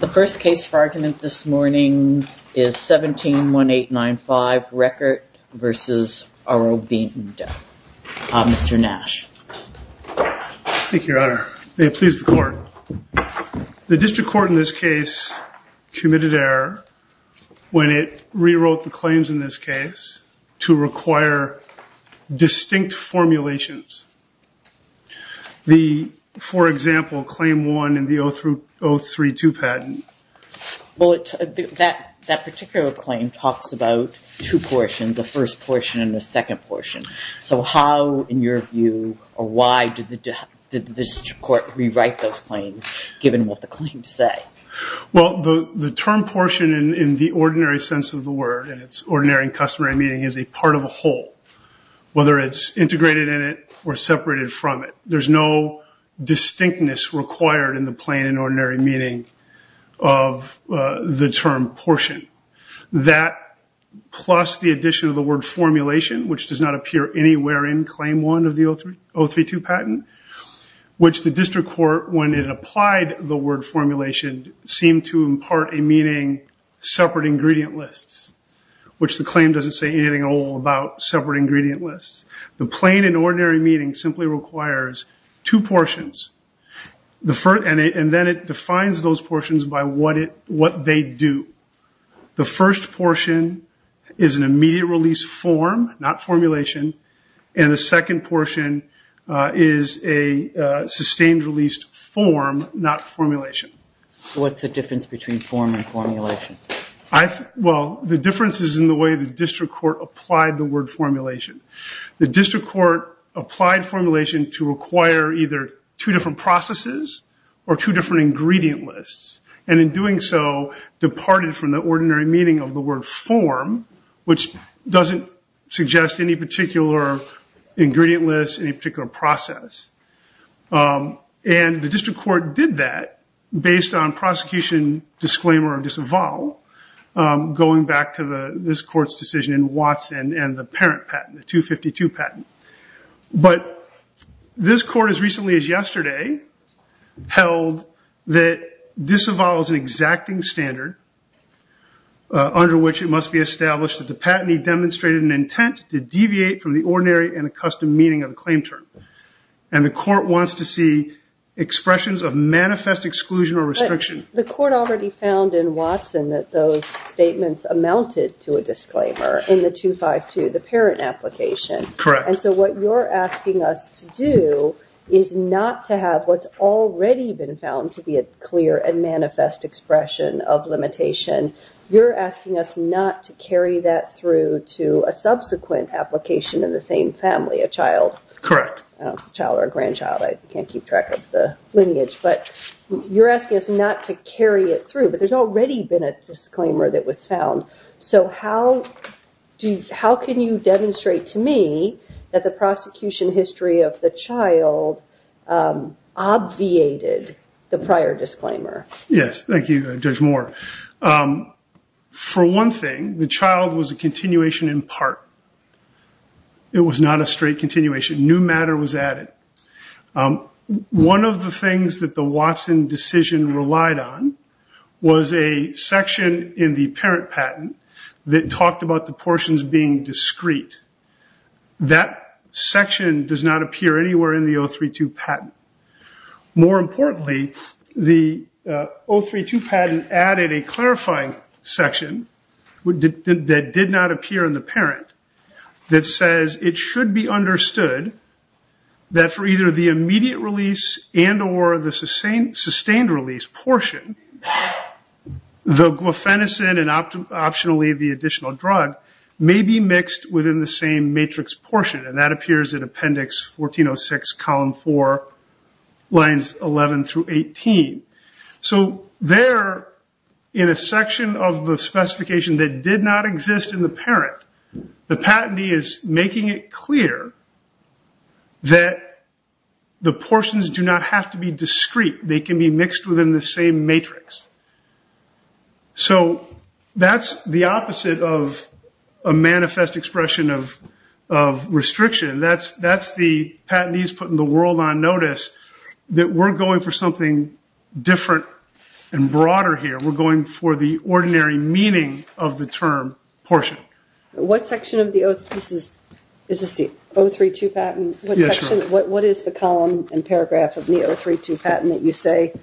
The first case for argument this morning is 171895 Reckitt v. Aurobindo. Mr. Nash. Thank you, your honor. May it please the court. The district court in this case committed error when it rewrote the claims in this case to require distinct formulations. For example, claim one in the 032 patent. That particular claim talks about two portions, the first portion and the second portion. So how in your view or why did this court rewrite those claims given what the claims say? Well, the term portion in the ordinary sense of the word and it's ordinary and customary meaning is a part of a whole. Whether it's integrated in or separated from it, there's no distinctness required in the plain and ordinary meaning of the term portion. That plus the addition of the word formulation, which does not appear anywhere in claim one of the 032 patent, which the district court when it applied the word formulation seemed to impart a meaning separate ingredient lists, which the claim doesn't say about separate ingredient lists. The plain and ordinary meaning simply requires two portions. And then it defines those portions by what they do. The first portion is an immediate release form, not formulation. And the second portion is a sustained released form, not formulation. What's the difference between form and formulation? Well, the difference is in the way the district court applied the word formulation. The district court applied formulation to require either two different processes or two different ingredient lists. And in doing so, departed from the ordinary meaning of the word form, which doesn't suggest any particular ingredient list, any particular process. And the district court did that based on prosecution disclaimer of disavow going back to this court's decision in Watson and the parent patent, the 252 patent. But this court as recently as yesterday held that disavow is an exacting standard under which it must be established that the patentee demonstrated an intent to deviate from the ordinary and accustomed meaning of the claim term. And the court wants to see expressions of manifest exclusion or restriction. But the court already found in Watson that those statements amounted to a disclaimer in the 252, the parent application. Correct. And so what you're asking us to do is not to have what's already been found to be a clear and manifest expression of limitation. You're asking us not to carry that through to a subsequent application in the same family, a child. Correct. I don't know if it's a child or a grandchild. I can't keep track of the lineage. But you're asking us not to carry it through. But there's already been a disclaimer that was found. So how can you demonstrate to me that the prosecution history of the child obviated the prior disclaimer? Yes. Thank you, Judge Moore. For one thing, the child was a straight continuation. New matter was added. One of the things that the Watson decision relied on was a section in the parent patent that talked about the portions being discrete. That section does not appear anywhere in the 032 patent. More importantly, the 032 patent added a statement that it may be understood that for either the immediate release and or the sustained release portion, the guafenazine and optionally the additional drug may be mixed within the same matrix portion. And that appears in appendix 1406, column 4, lines 11 through 18. So there, in a section of the oath, it's clear that the portions do not have to be discrete. They can be mixed within the same matrix. So that's the opposite of a manifest expression of restriction. That's the patentees putting the world on notice, that we're going for something different and broader here. We're going for the ordinary meaning of the term portion. What section of the oath is this the 032 patent? What is the column and paragraph of the 032 patent that you say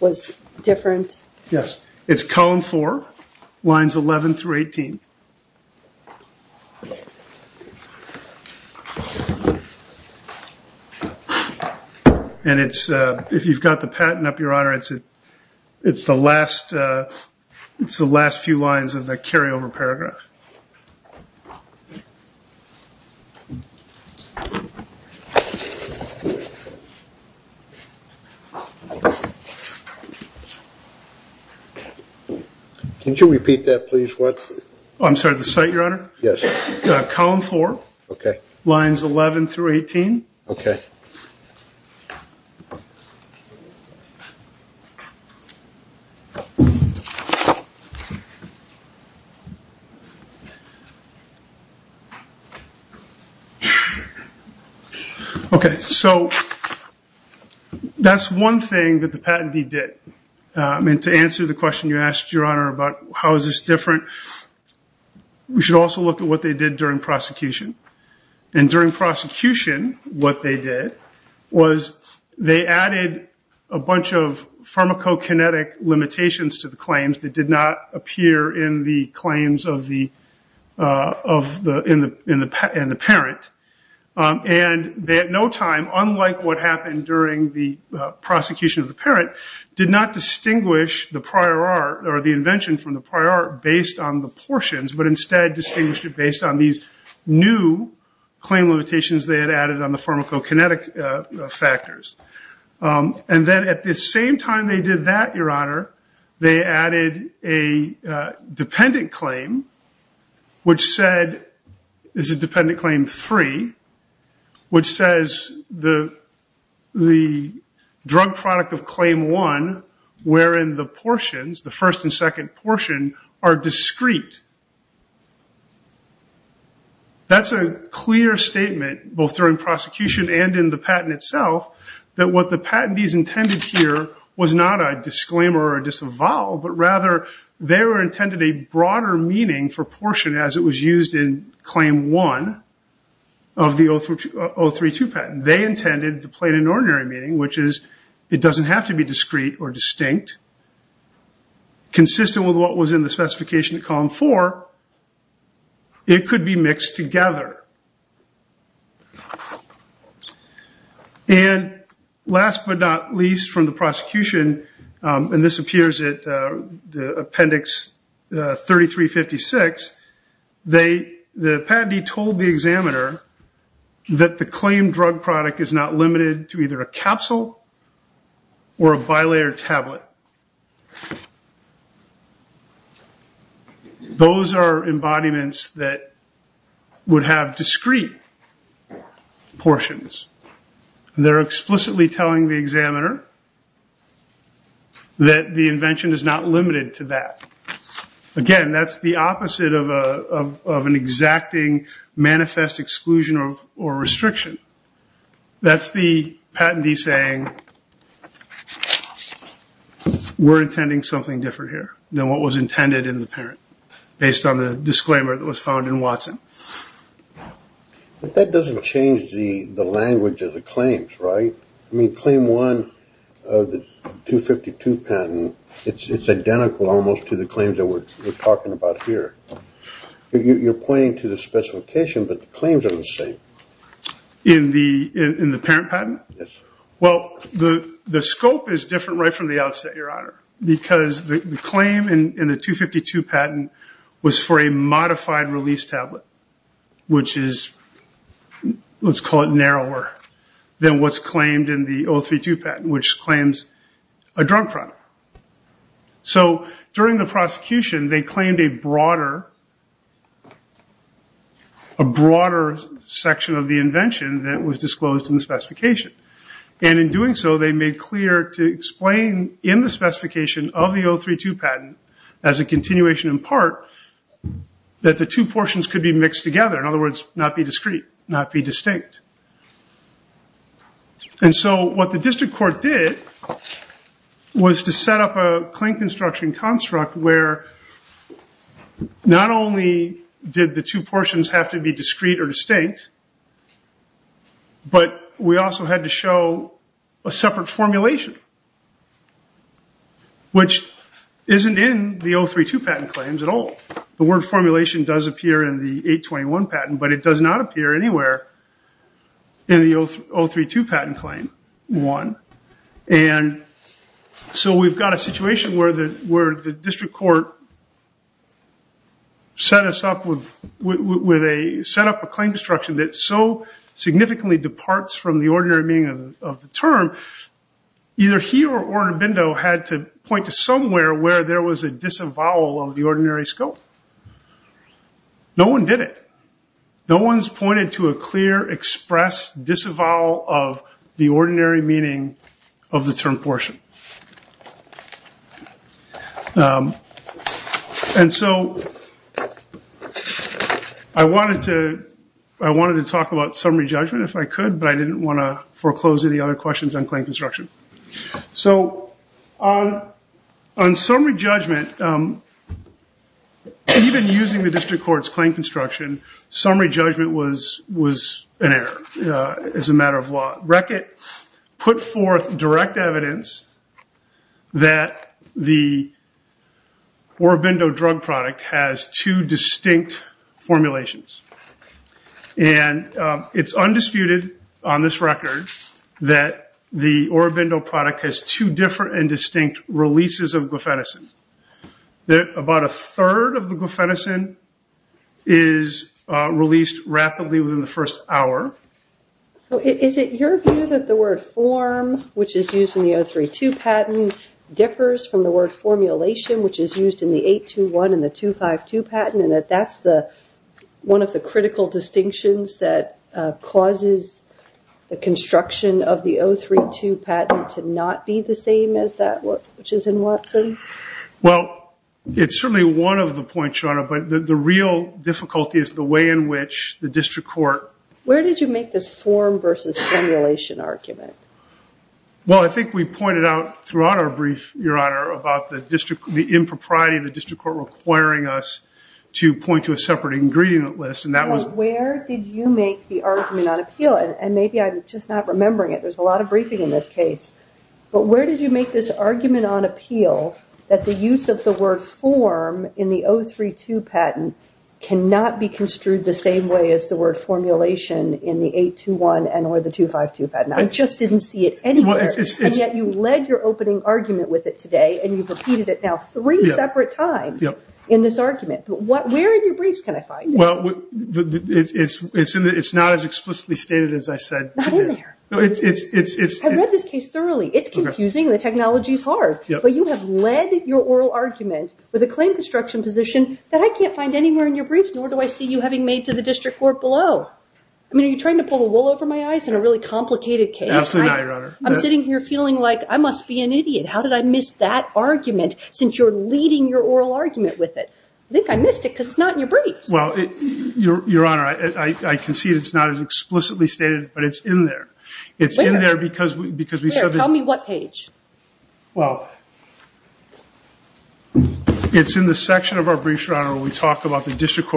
was different? Yes, it's column 4, lines 11 through 18. And if you've got the patent up, your honor, it's the last few lines of the carryover paragraph. Can you repeat that, please? What? I'm sorry, the site, your honor? Yes. Column 4. Okay. Lines 11 through 18. Okay. Okay. So that's one thing that the patentee did. I mean, to answer the question you asked, your honor, about how is this different, we should also look at what they did during prosecution. And during prosecution, what they did was they added a bunch of pharmacokinetic limitations to the claims that did not appear in the claims of the parent. And at no time, unlike what happened during the prosecution of the parent, did not distinguish the prior art or the invention from the prior art based on the portions, but instead distinguished it based on these new claim limitations they had added on the pharmacokinetic factors. And then at the same time they did that, your honor, they added a dependent claim, which said, this is dependent claim 3, which says the drug product of claim 1, wherein the portions, the first and second portion, are discrete. That's a clear statement, both during prosecution and in the patent itself, that what the patentees intended here was not a disclaimer or a disavowal, but rather they were intended a broader meaning for portion as it was used in claim 1 of the 032 patent. They intended the plain and ordinary meaning, which is it doesn't have to be discrete or distinct, consistent with what was in the specification of column 4, it could be mixed together. And last but not least from the prosecution, and this appears at the appendix 3356, the patentee told the examiner that the claim drug product is not limited to either a capsule or a bilayer tablet. Those are embodiments that would have discrete portions. They're explicitly telling the examiner that the invention is not limited to that. Again, that's the opposite of an exacting manifest exclusion or restriction. That's the patentee saying, we're intending something different here than what was intended in the parent, based on the disclaimer that was found in Watson. But that doesn't change the language of the claims, right? I mean, claim 1 of the 252 patent, it's identical almost to the claims that we're talking about here. You're pointing to the specification, but the claims are the same. In the parent patent? Yes. Well, the scope is different right from the outset, Your Honor, because the claim in the 252 patent was for a modified release tablet, which is, let's call it narrower than what's claimed in the 032 patent, which claims a drug product. So during the prosecution, they claimed a broader section of the invention that was disclosed in the specification. And in doing so, they made clear to explain in the specification of the 032 patent, as a continuation in part, that the two portions could be mixed together. In other words, not be discrete, not be distinct. And so what the district court did was to set up a claim construction construct where not only did the two portions have to be discrete or distinct, but we also had to show a separate formulation, which isn't in the 032 patent claims at all. The word formulation does appear in the 821 patent, but it does not appear anywhere in the 032 patent claim one. And so we've got a situation where the district court set us up with a set up a claim construction that so significantly departs from the ordinary meaning of the term, either he or Ordobindo had to point to somewhere where there was a disavowal of the ordinary scope. No one did it. No one's pointed to a clear express disavowal of the ordinary meaning of the term portion. And so I wanted to talk about summary judgment if I could, but I didn't want to foreclose any other questions on claim construction. So on summary judgment, even using the district court's claim construction, summary judgment was an error as a matter of law. Reckitt put forth direct evidence that the Ordobindo drug product has two distinct formulations. And it's undisputed on this record that the Ordobindo product has two different and distinct releases of glufenazine. That about a third of the glufenazine is released rapidly within the first hour. So is it your view that the word form, which is used in the 032 patent, differs from the word formulation, which is used in the 821 and the 252 patent, and that that's the one of the critical distinctions that causes the construction of the 032 patent to not be the same as that which is in Watson? Well, it's certainly one of the points, Your Honor, but the real difficulty is the way in which the district court- Where did you make this form versus formulation argument? Well, I think we pointed out throughout our brief, Your Honor, about the impropriety of Where did you make the argument on appeal? And maybe I'm just not remembering it. There's a lot of briefing in this case. But where did you make this argument on appeal that the use of the word form in the 032 patent cannot be construed the same way as the word formulation in the 821 and or the 252 patent? I just didn't see it anywhere. And yet you led your opening argument with it today, and you've repeated it now three separate times in this argument. But where in your briefs can I find it? Well, it's not as explicitly stated as I said. Not in there. I read this case thoroughly. It's confusing. The technology is hard. But you have led your oral argument with a claim construction position that I can't find anywhere in your briefs, nor do I see you having made to the district court below. I mean, are you trying to pull the wool over my eyes in a really complicated case? Absolutely not, Your Honor. I'm sitting here feeling like I must be an idiot. How did I miss that argument since you're leading your oral argument with it? I think I missed it because it's not in your briefs. Well, Your Honor, I can see it's not as explicitly stated, but it's in there. It's in there because we said that- Tell me what page. Well, it's in the section of our briefs, Your Honor, where we talk about the district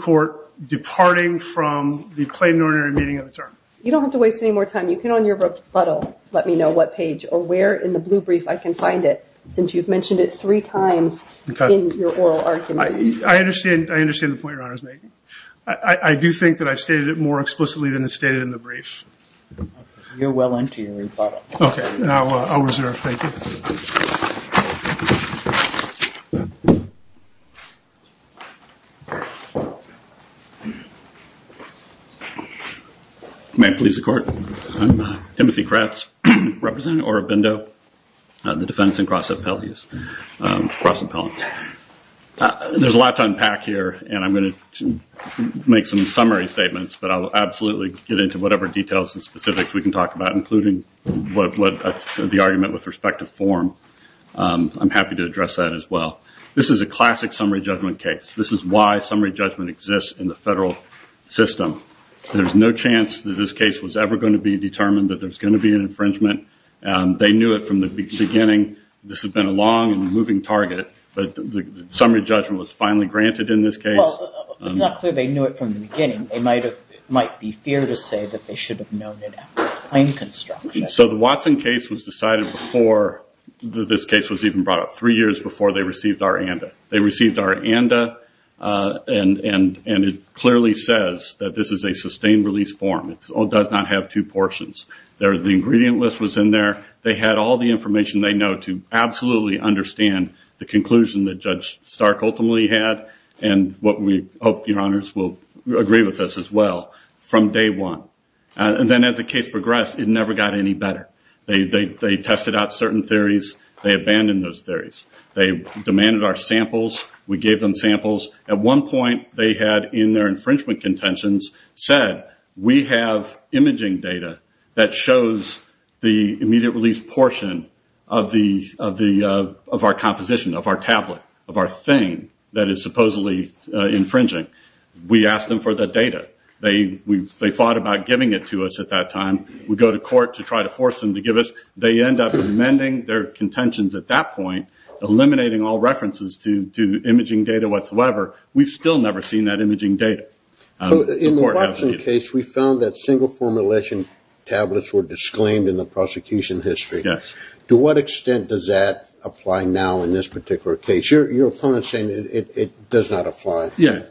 court departing from the plain ordinary meeting of the term. You don't have to waste any more time. You can, on your rebuttal, let me know what page or where in the blue brief I can find it, since you've mentioned it three times in your oral argument. I understand. I understand the point Your Honor is making. I do think that I've stated it more explicitly than it's stated in the brief. You're well into your rebuttal. Okay. I'll reserve. Thank you. May it please the court. I'm Timothy Kratz, representing Orobindo, the defense in Cross Appellant. There's a lot to unpack here, and I'm going to make some summary statements, but I will absolutely get into whatever details and specifics we can talk about, including the argument with respect to form. I'm happy to address that as well. This is a classic summary judgment case. This is why summary judgment exists in the federal system. There's no chance that this case was ever going to be determined that there's going to be an infringement. They knew it from the beginning. This has been a long and moving target, but the summary judgment was finally granted in this case. It's not clear they knew it from the beginning. It might be fair to say that they should have known it after the claim construction. The Watson case was decided before this case was even brought up, three years before they received our ANDA. They received our ANDA, and it clearly says that this is a sustained release form. It does not have two portions. The ingredient list was in there. They had all the information they know to absolutely understand the conclusion that Judge Stark ultimately had, and what we hope your honors will agree with us as well, from day one. And then as the case progressed, it never got any better. They tested out certain theories. They abandoned those theories. They demanded our samples. We gave them samples. At one point, they had, in their infringement contentions, said, we have imaging data that shows the immediate release portion of our composition, of our tablet, of our thing that is supposedly infringing. We asked them for the data. They fought about giving it to us at that time. We go to court to try to force them to give us. They end up amending their contentions at that point, eliminating all references to imaging data whatsoever. We've still never seen that imaging data. In the Watson case, we found that single formulation tablets were disclaimed in the prosecution history. To what extent does that apply now in this particular case? Your opponent's saying it does not apply. Yeah.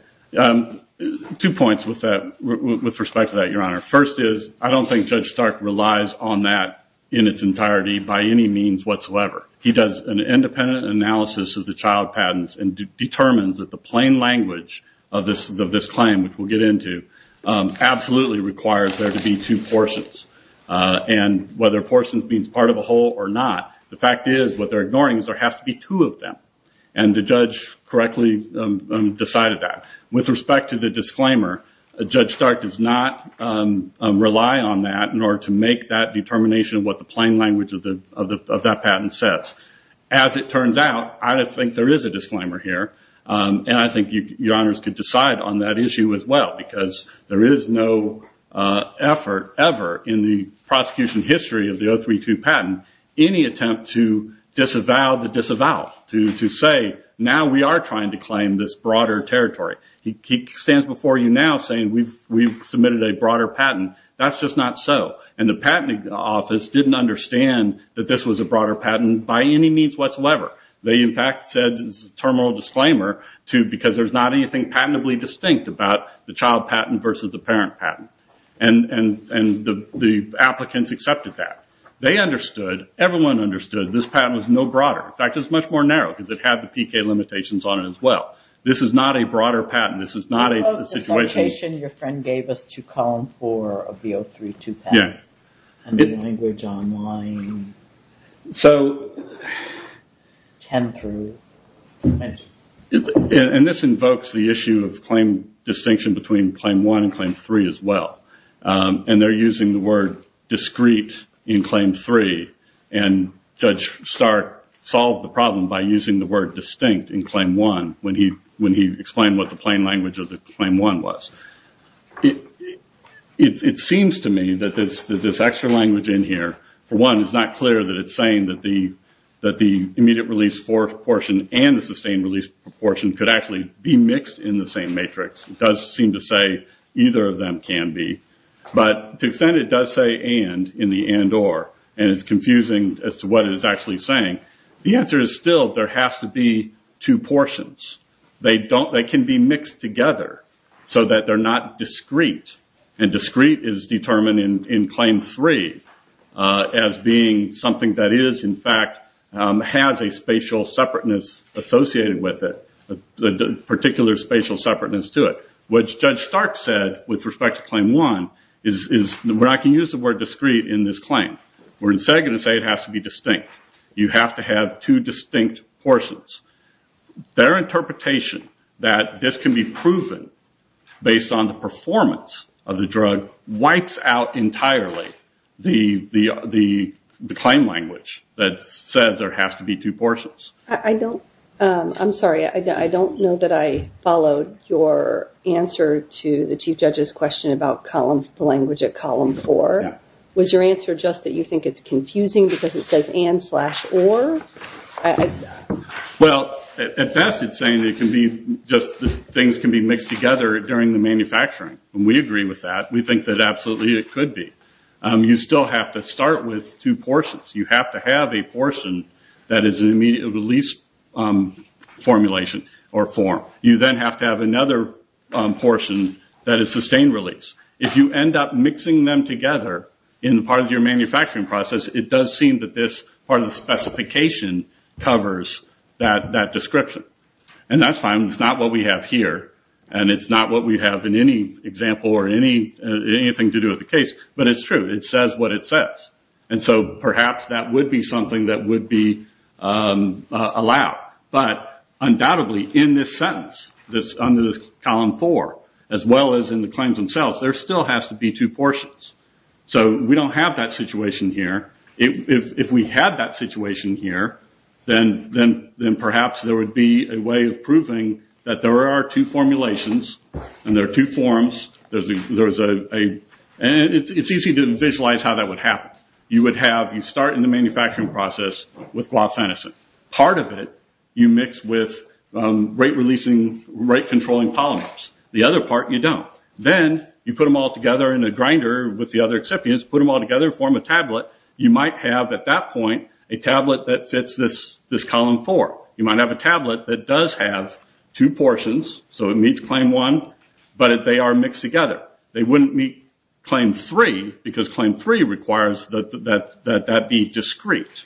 Two points with respect to that, your honor. First is, I don't think Judge Stark relies on that in its entirety by any means whatsoever. He does an independent analysis of the child patents and determines that the plain language of this claim, which we'll get into, absolutely requires there to be two portions. Whether portions means part of a whole or not, the fact is what they're ignoring is there has to be two of them. The judge correctly decided that. With respect to the disclaimer, Judge Stark does not rely on that in order to make that determination of what the plain language of that patent says. As it turns out, I don't think there is a disclaimer here. I think your honors could decide on that issue as well because there is no effort ever in the prosecution history of the 032 patent, any attempt to disavow the disavow, to say, now we are trying to claim this broader territory. He stands before you now saying we've submitted a broader patent. That's just not so. The patenting office didn't understand that this was a broader patent by any means whatsoever. They in fact said it's a terminal disclaimer because there's not anything patentably distinct about the child patent versus the parent patent. The applicants accepted that. They understood. Everyone understood this patent was no broader. In fact, it's much more narrow because it had the PK limitations on it as well. This is not a broader patent. This is not a situation... Language online. This invokes the issue of claim distinction between claim one and claim three as well. They're using the word discrete in claim three. Judge Stark solved the problem by using the word distinct in claim one when he explained what the plain language of the claim one was. It seems to me that this extra language in here, for one, is not clear that it's saying that the immediate release portion and the sustained release portion could actually be mixed in the same matrix. It does seem to say either of them can be. But to the extent it does say and in the and or, and it's confusing as to what it is actually saying, the answer is still there has to be two portions. They can be mixed together so that they're not discrete. And discrete is determined in claim three as being something that is, in fact, has a spatial separateness associated with it, a particular spatial separateness to it, which Judge Stark said with respect to claim one is where I can use the word discrete in this claim. We're instead going to say it has to be distinct. You have to have two distinct portions. Their interpretation that this can be proven based on the performance of the drug wipes out entirely the claim language that says there has to be two portions. I'm sorry. I don't know that I followed your answer to the chief judge's question about the language at column four. Was your answer just that you think it's confusing because it says and slash or? Well, at best it's saying it can be just things can be mixed together during the manufacturing. We agree with that. We think that absolutely it could be. You still have to start with two portions. You have to have a portion that is an immediate release formulation or form. You then have to have another portion that is sustained release. If you end up mixing them together in part of your manufacturing process, it does seem that this part of the specification covers that description. That's fine. It's not what we have here. It's not what we have in any example or anything to do with the case, but it's true. It says what it says. Perhaps that would be something that would be allowed. Undoubtedly, in this sentence, under this column four, as well as in the claims themselves, there still has to be two portions. We don't have that situation here. If we had that situation here, then perhaps there would be a way of proving that there are two formulations and there are two forms. It's easy to visualize how that would happen. You would have you start in the manufacturing process with glufenicin. Part of it you mix with rate-releasing, rate-controlling polymers. The other part you don't. Then you put them all together in a grinder with the other excipients, put them all together and form a tablet. You might have, at that point, a tablet that fits this column four. You might have a tablet that does have two portions, so it meets claim one, but they are mixed together. They wouldn't meet claim three because claim three requires that that be discrete.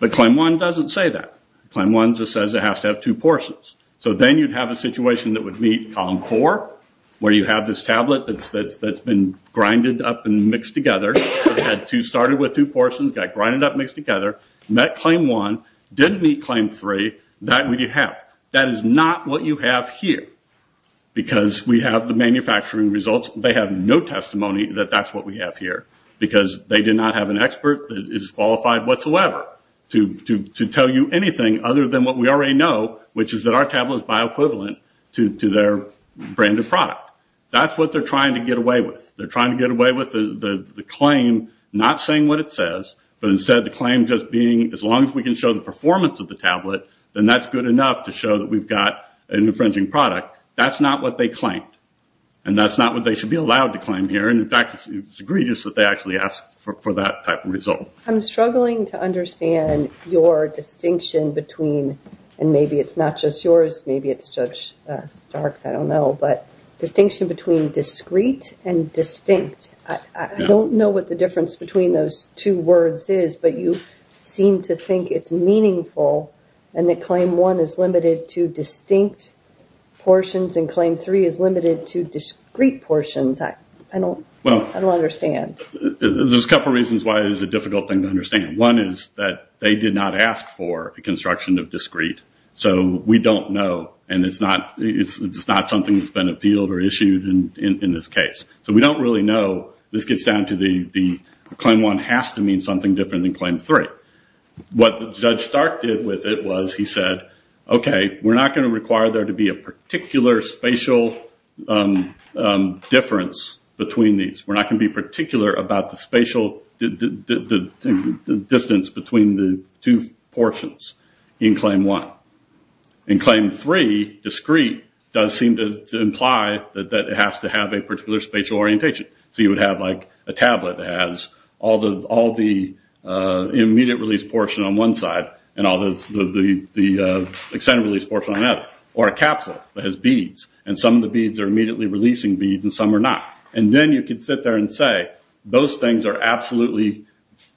But claim one doesn't say that. Claim one just says it has to have two portions. Then you'd have a situation that would meet column four, where you have this tablet that's been grinded up and mixed together. It started with two portions, got grinded up and mixed together, met claim one, didn't meet claim three. That would you have. That is not what you have here because we have the manufacturing results. They have no testimony that that's what we have here because they did not have an expert that is qualified whatsoever to tell you anything other than what we already know, which is that our tablet is bioequivalent to their branded product. That's what they're trying to get away with. They're trying to get away with the claim not saying what it says, but instead the claim just being, as long as we can show the performance of the tablet, then that's good enough to show that we've got an infringing product. That's not what they claimed. That's not what they should be allowed to claim here. In fact, it's egregious that they actually ask for that type of result. I'm struggling to understand your distinction between, and maybe it's not just yours. Maybe it's Judge Stark's. I don't know, but distinction between discrete and distinct. I don't know what the difference between those two words is, but you seem to think it's meaningful and that claim one is limited to distinct portions and claim three is limited to discrete portions. I don't understand. There's a couple of reasons why it is a difficult thing to understand. One is that they did not ask for a construction of discrete. We don't know and it's not something that's been appealed or issued in this case. We don't really know. This gets down to the claim one has to mean something different than claim three. What Judge Stark did with it was he said, we're not going to require there to be a particular spatial difference between these. We're not going to be particular about the spatial distance between the two portions in claim one. In claim three, discrete does seem to imply that it has to have a particular spatial orientation. You would have a tablet that has all the immediate release portion on one side and all the extended release portion on the other, or a capsule that has beads and some of the beads are immediately releasing beads and some are not. Then you can sit there and say, those things are absolutely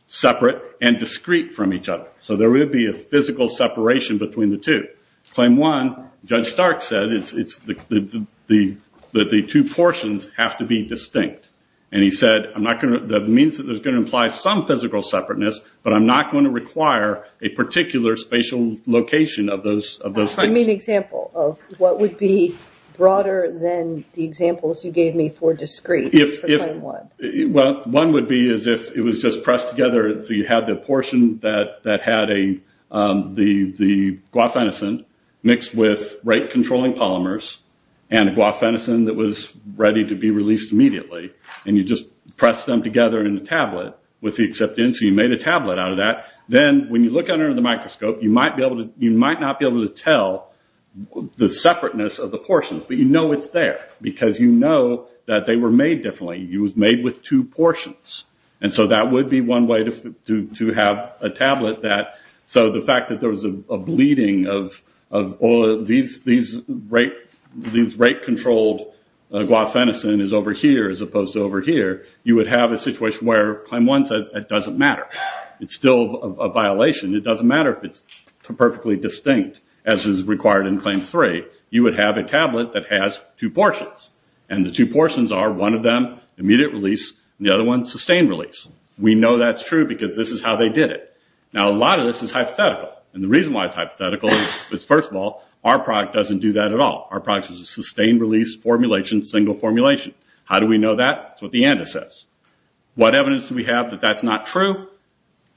separate and discrete from each other. There would be a physical separation between the two. Claim one, Judge Stark said that the two portions have to be distinct. He said, that means that there's going to imply some physical separateness, but I'm not going to require a particular spatial location of those things. Example of what would be broader than the examples you gave me for discrete? One would be as if it was just pressed together. You have the portion that had the guafenicin mixed with rate controlling polymers and a guafenicin that was ready to be released immediately. You just press them together in the tablet with the acceptance. You made a tablet out of that. Then when you look under the microscope, you might not be able to tell the separateness of the portions, but you know it's there because you know that they were made differently. It was made with two portions. That would be one way to have a tablet. The fact that there was a bleeding of these rate controlled guafenicin is over here, as opposed to over here, you would have a situation where claim one says it doesn't matter. It's still a violation. It doesn't matter if it's perfectly distinct as is required in claim three. You would have a tablet that has two portions, and the two portions are one of them immediate release, and the other one sustained release. We know that's true because this is how they did it. Now, a lot of this is hypothetical. The reason why it's hypothetical is, first of all, our product doesn't do that at all. Our product is a sustained release formulation, single formulation. How do we know that? It's what the ANDA says. What evidence do we have that that's not true?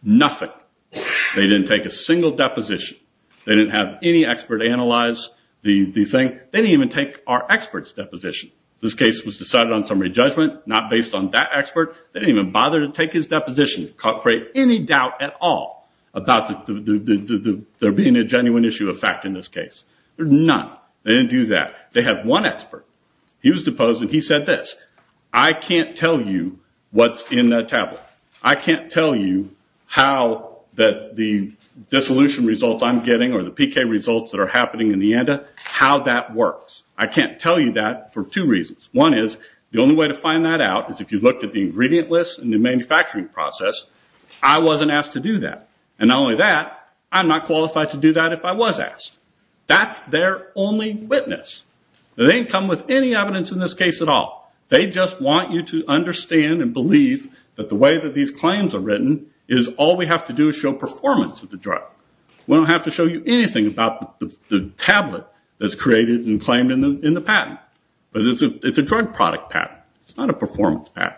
Nothing. They didn't take a single deposition. They didn't have any expert analyze the thing. They didn't even take our expert's deposition. This case was decided on summary judgment, not based on that expert. They didn't even bother to take his deposition to create any doubt at all about there being a genuine issue of fact in this case. There's none. They didn't do that. They had one expert. He was deposed, and he said this, I can't tell you what's in that tablet. I can't tell you how the dissolution results I'm getting, or the PK results that are happening in the ANDA, how that works. I can't tell you that for two reasons. One is, the only way to find that out is if you looked at the ingredient list and the manufacturing process, I wasn't asked to do that. Not only that, I'm not qualified to do that if I was asked. That's their only witness. They didn't come with any evidence in this case at all. They just want you to understand and believe that the way that these claims are written is all we have to do is show performance of the drug. We don't have to show you anything about the tablet that's created and claimed in the patent, but it's a drug product patent. It's not a performance patent.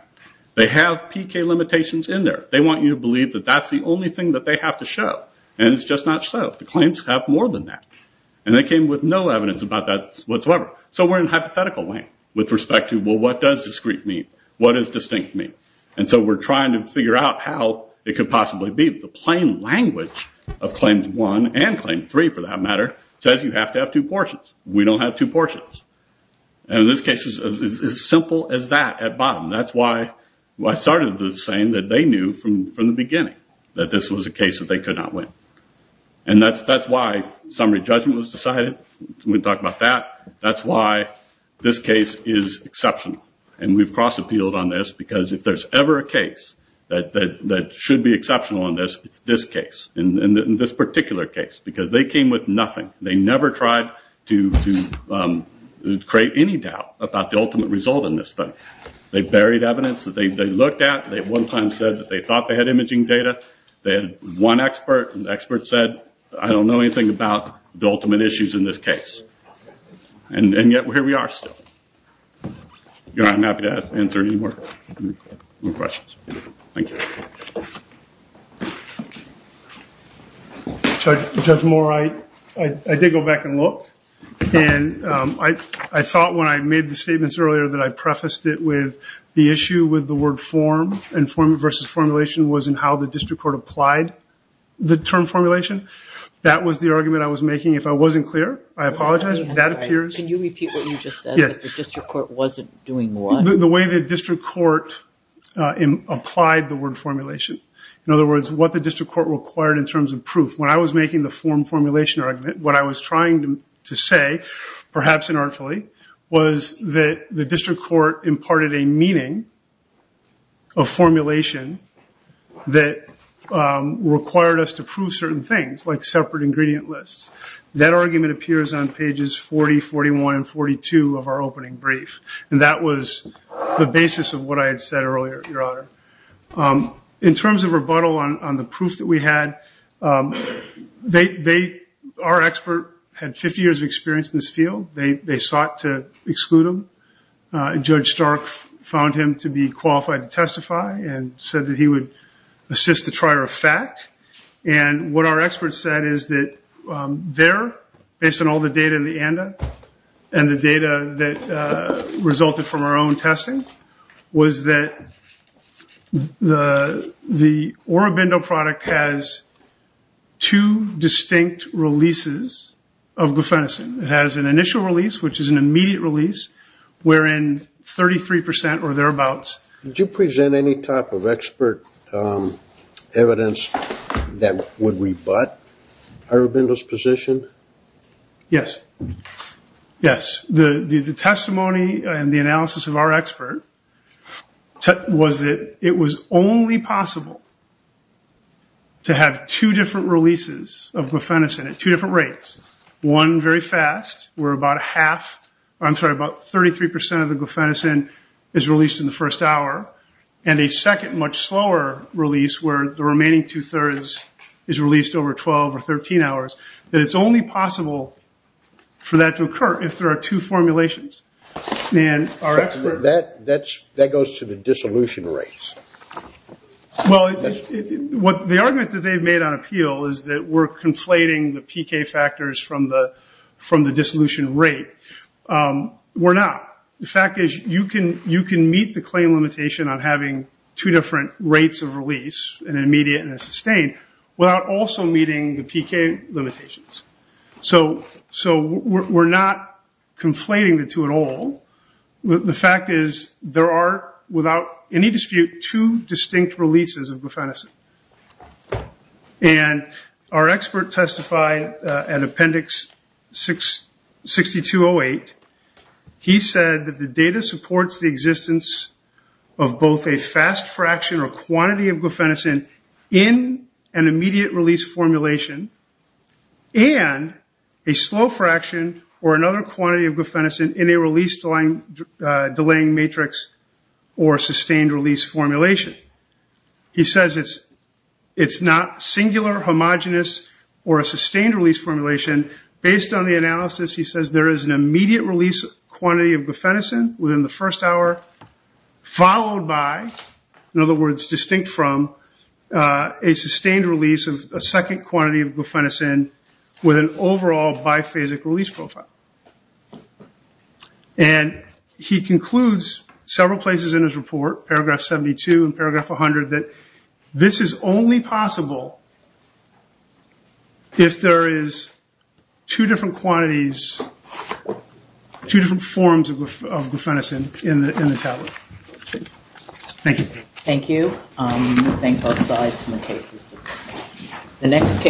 They have PK limitations in there. They want you to believe that that's the only thing that they have to show, and it's just not so. The claims have more than that, and they came with no evidence about that whatsoever. We're in a hypothetical lane with respect to, well, what does discrete mean? What does distinct mean? We're trying to figure out how it could possibly be. The plain language of Claims 1 and Claim 3, for that matter, says you have to have two portions. We don't have two portions. This case is as simple as that at bottom. That's why I started the saying that they knew from the beginning that this was a case that they could not win. That's why summary judgment was decided. We talked about that. That's why this case is exceptional, and we've cross-appealed on this, because if there's ever a case that should be exceptional on this, it's this case and this particular case, because they came with nothing. They never tried to create any doubt about the ultimate result in this study. They buried evidence that they looked at. They at one time said that they thought they had imaging data. They had one expert, and the expert said, I don't know anything about the ultimate issues in this case. And yet, here we are still. I'm happy to answer any more questions. Thank you. Judge Moore, I did go back and look, and I thought when I made the statements earlier that I prefaced it with the issue with the word form, and form versus formulation was in how the district court applied the term formulation. That was the argument I was making. If I wasn't clear, I apologize. Can you repeat what you just said? The district court wasn't doing what? The way the district court applied the word formulation. In other words, what the district court required in terms of proof. When I was making the form formulation argument, what I was trying to say, perhaps inartfully, was that the district court imparted a meaning of formulation that required us to prove certain things, like separate ingredient lists. That argument appears on pages 40, 41, and 42 of our opening brief. And that was the basis of what I had said earlier, Your Honor. In terms of rebuttal on the proof that we had, our expert had 50 years of experience in this field. They sought to exclude him. Judge Stark found him to be qualified to testify and said that he would assist the trier of fact. And what our expert said is that there, based on all the data in the ANDA and the data that resulted from our own testing, was that the Orobindo product has two distinct releases of glufenosine. It has an initial release, which is an immediate release, wherein 33% or thereabouts... That would rebut Orobindo's position? Yes. Yes. The testimony and the analysis of our expert was that it was only possible to have two different releases of glufenosine at two different rates. One very fast, where about half... I'm sorry, about 33% of the glufenosine is released in the first hour. And a second, much slower release, where the remaining two-thirds is released over 12 or 13 hours. That it's only possible for that to occur if there are two formulations. And our expert... That goes to the dissolution rates. Well, the argument that they've made on appeal is that we're conflating the PK factors from the dissolution rate. We're not. The fact is, you can meet the claim limitation on having two different rates of release, an immediate and a sustained, without also meeting the PK limitations. So we're not conflating the two at all. The fact is, there are, without any dispute, two distinct releases of glufenosine. And our expert testified at Appendix 6208. He said that the data supports the existence of both a fast fraction or quantity of glufenosine in an immediate release formulation. And a slow fraction or another quantity of glufenosine in a release-delaying matrix or sustained release formulation. He says it's not singular, homogenous, or a sustained release formulation. Based on the analysis, he says, there is an immediate release quantity of glufenosine within the first hour, followed by, in other words, distinct from a sustained release of a second quantity of glufenosine with an overall biphasic release profile. And he concludes several places in his report, paragraph 72 and paragraph 100, that this is only possible if there is two different quantities, two different forms of glufenosine in the tablet. Thank you. Thank you. I'm going to thank both sides in the cases. The next case.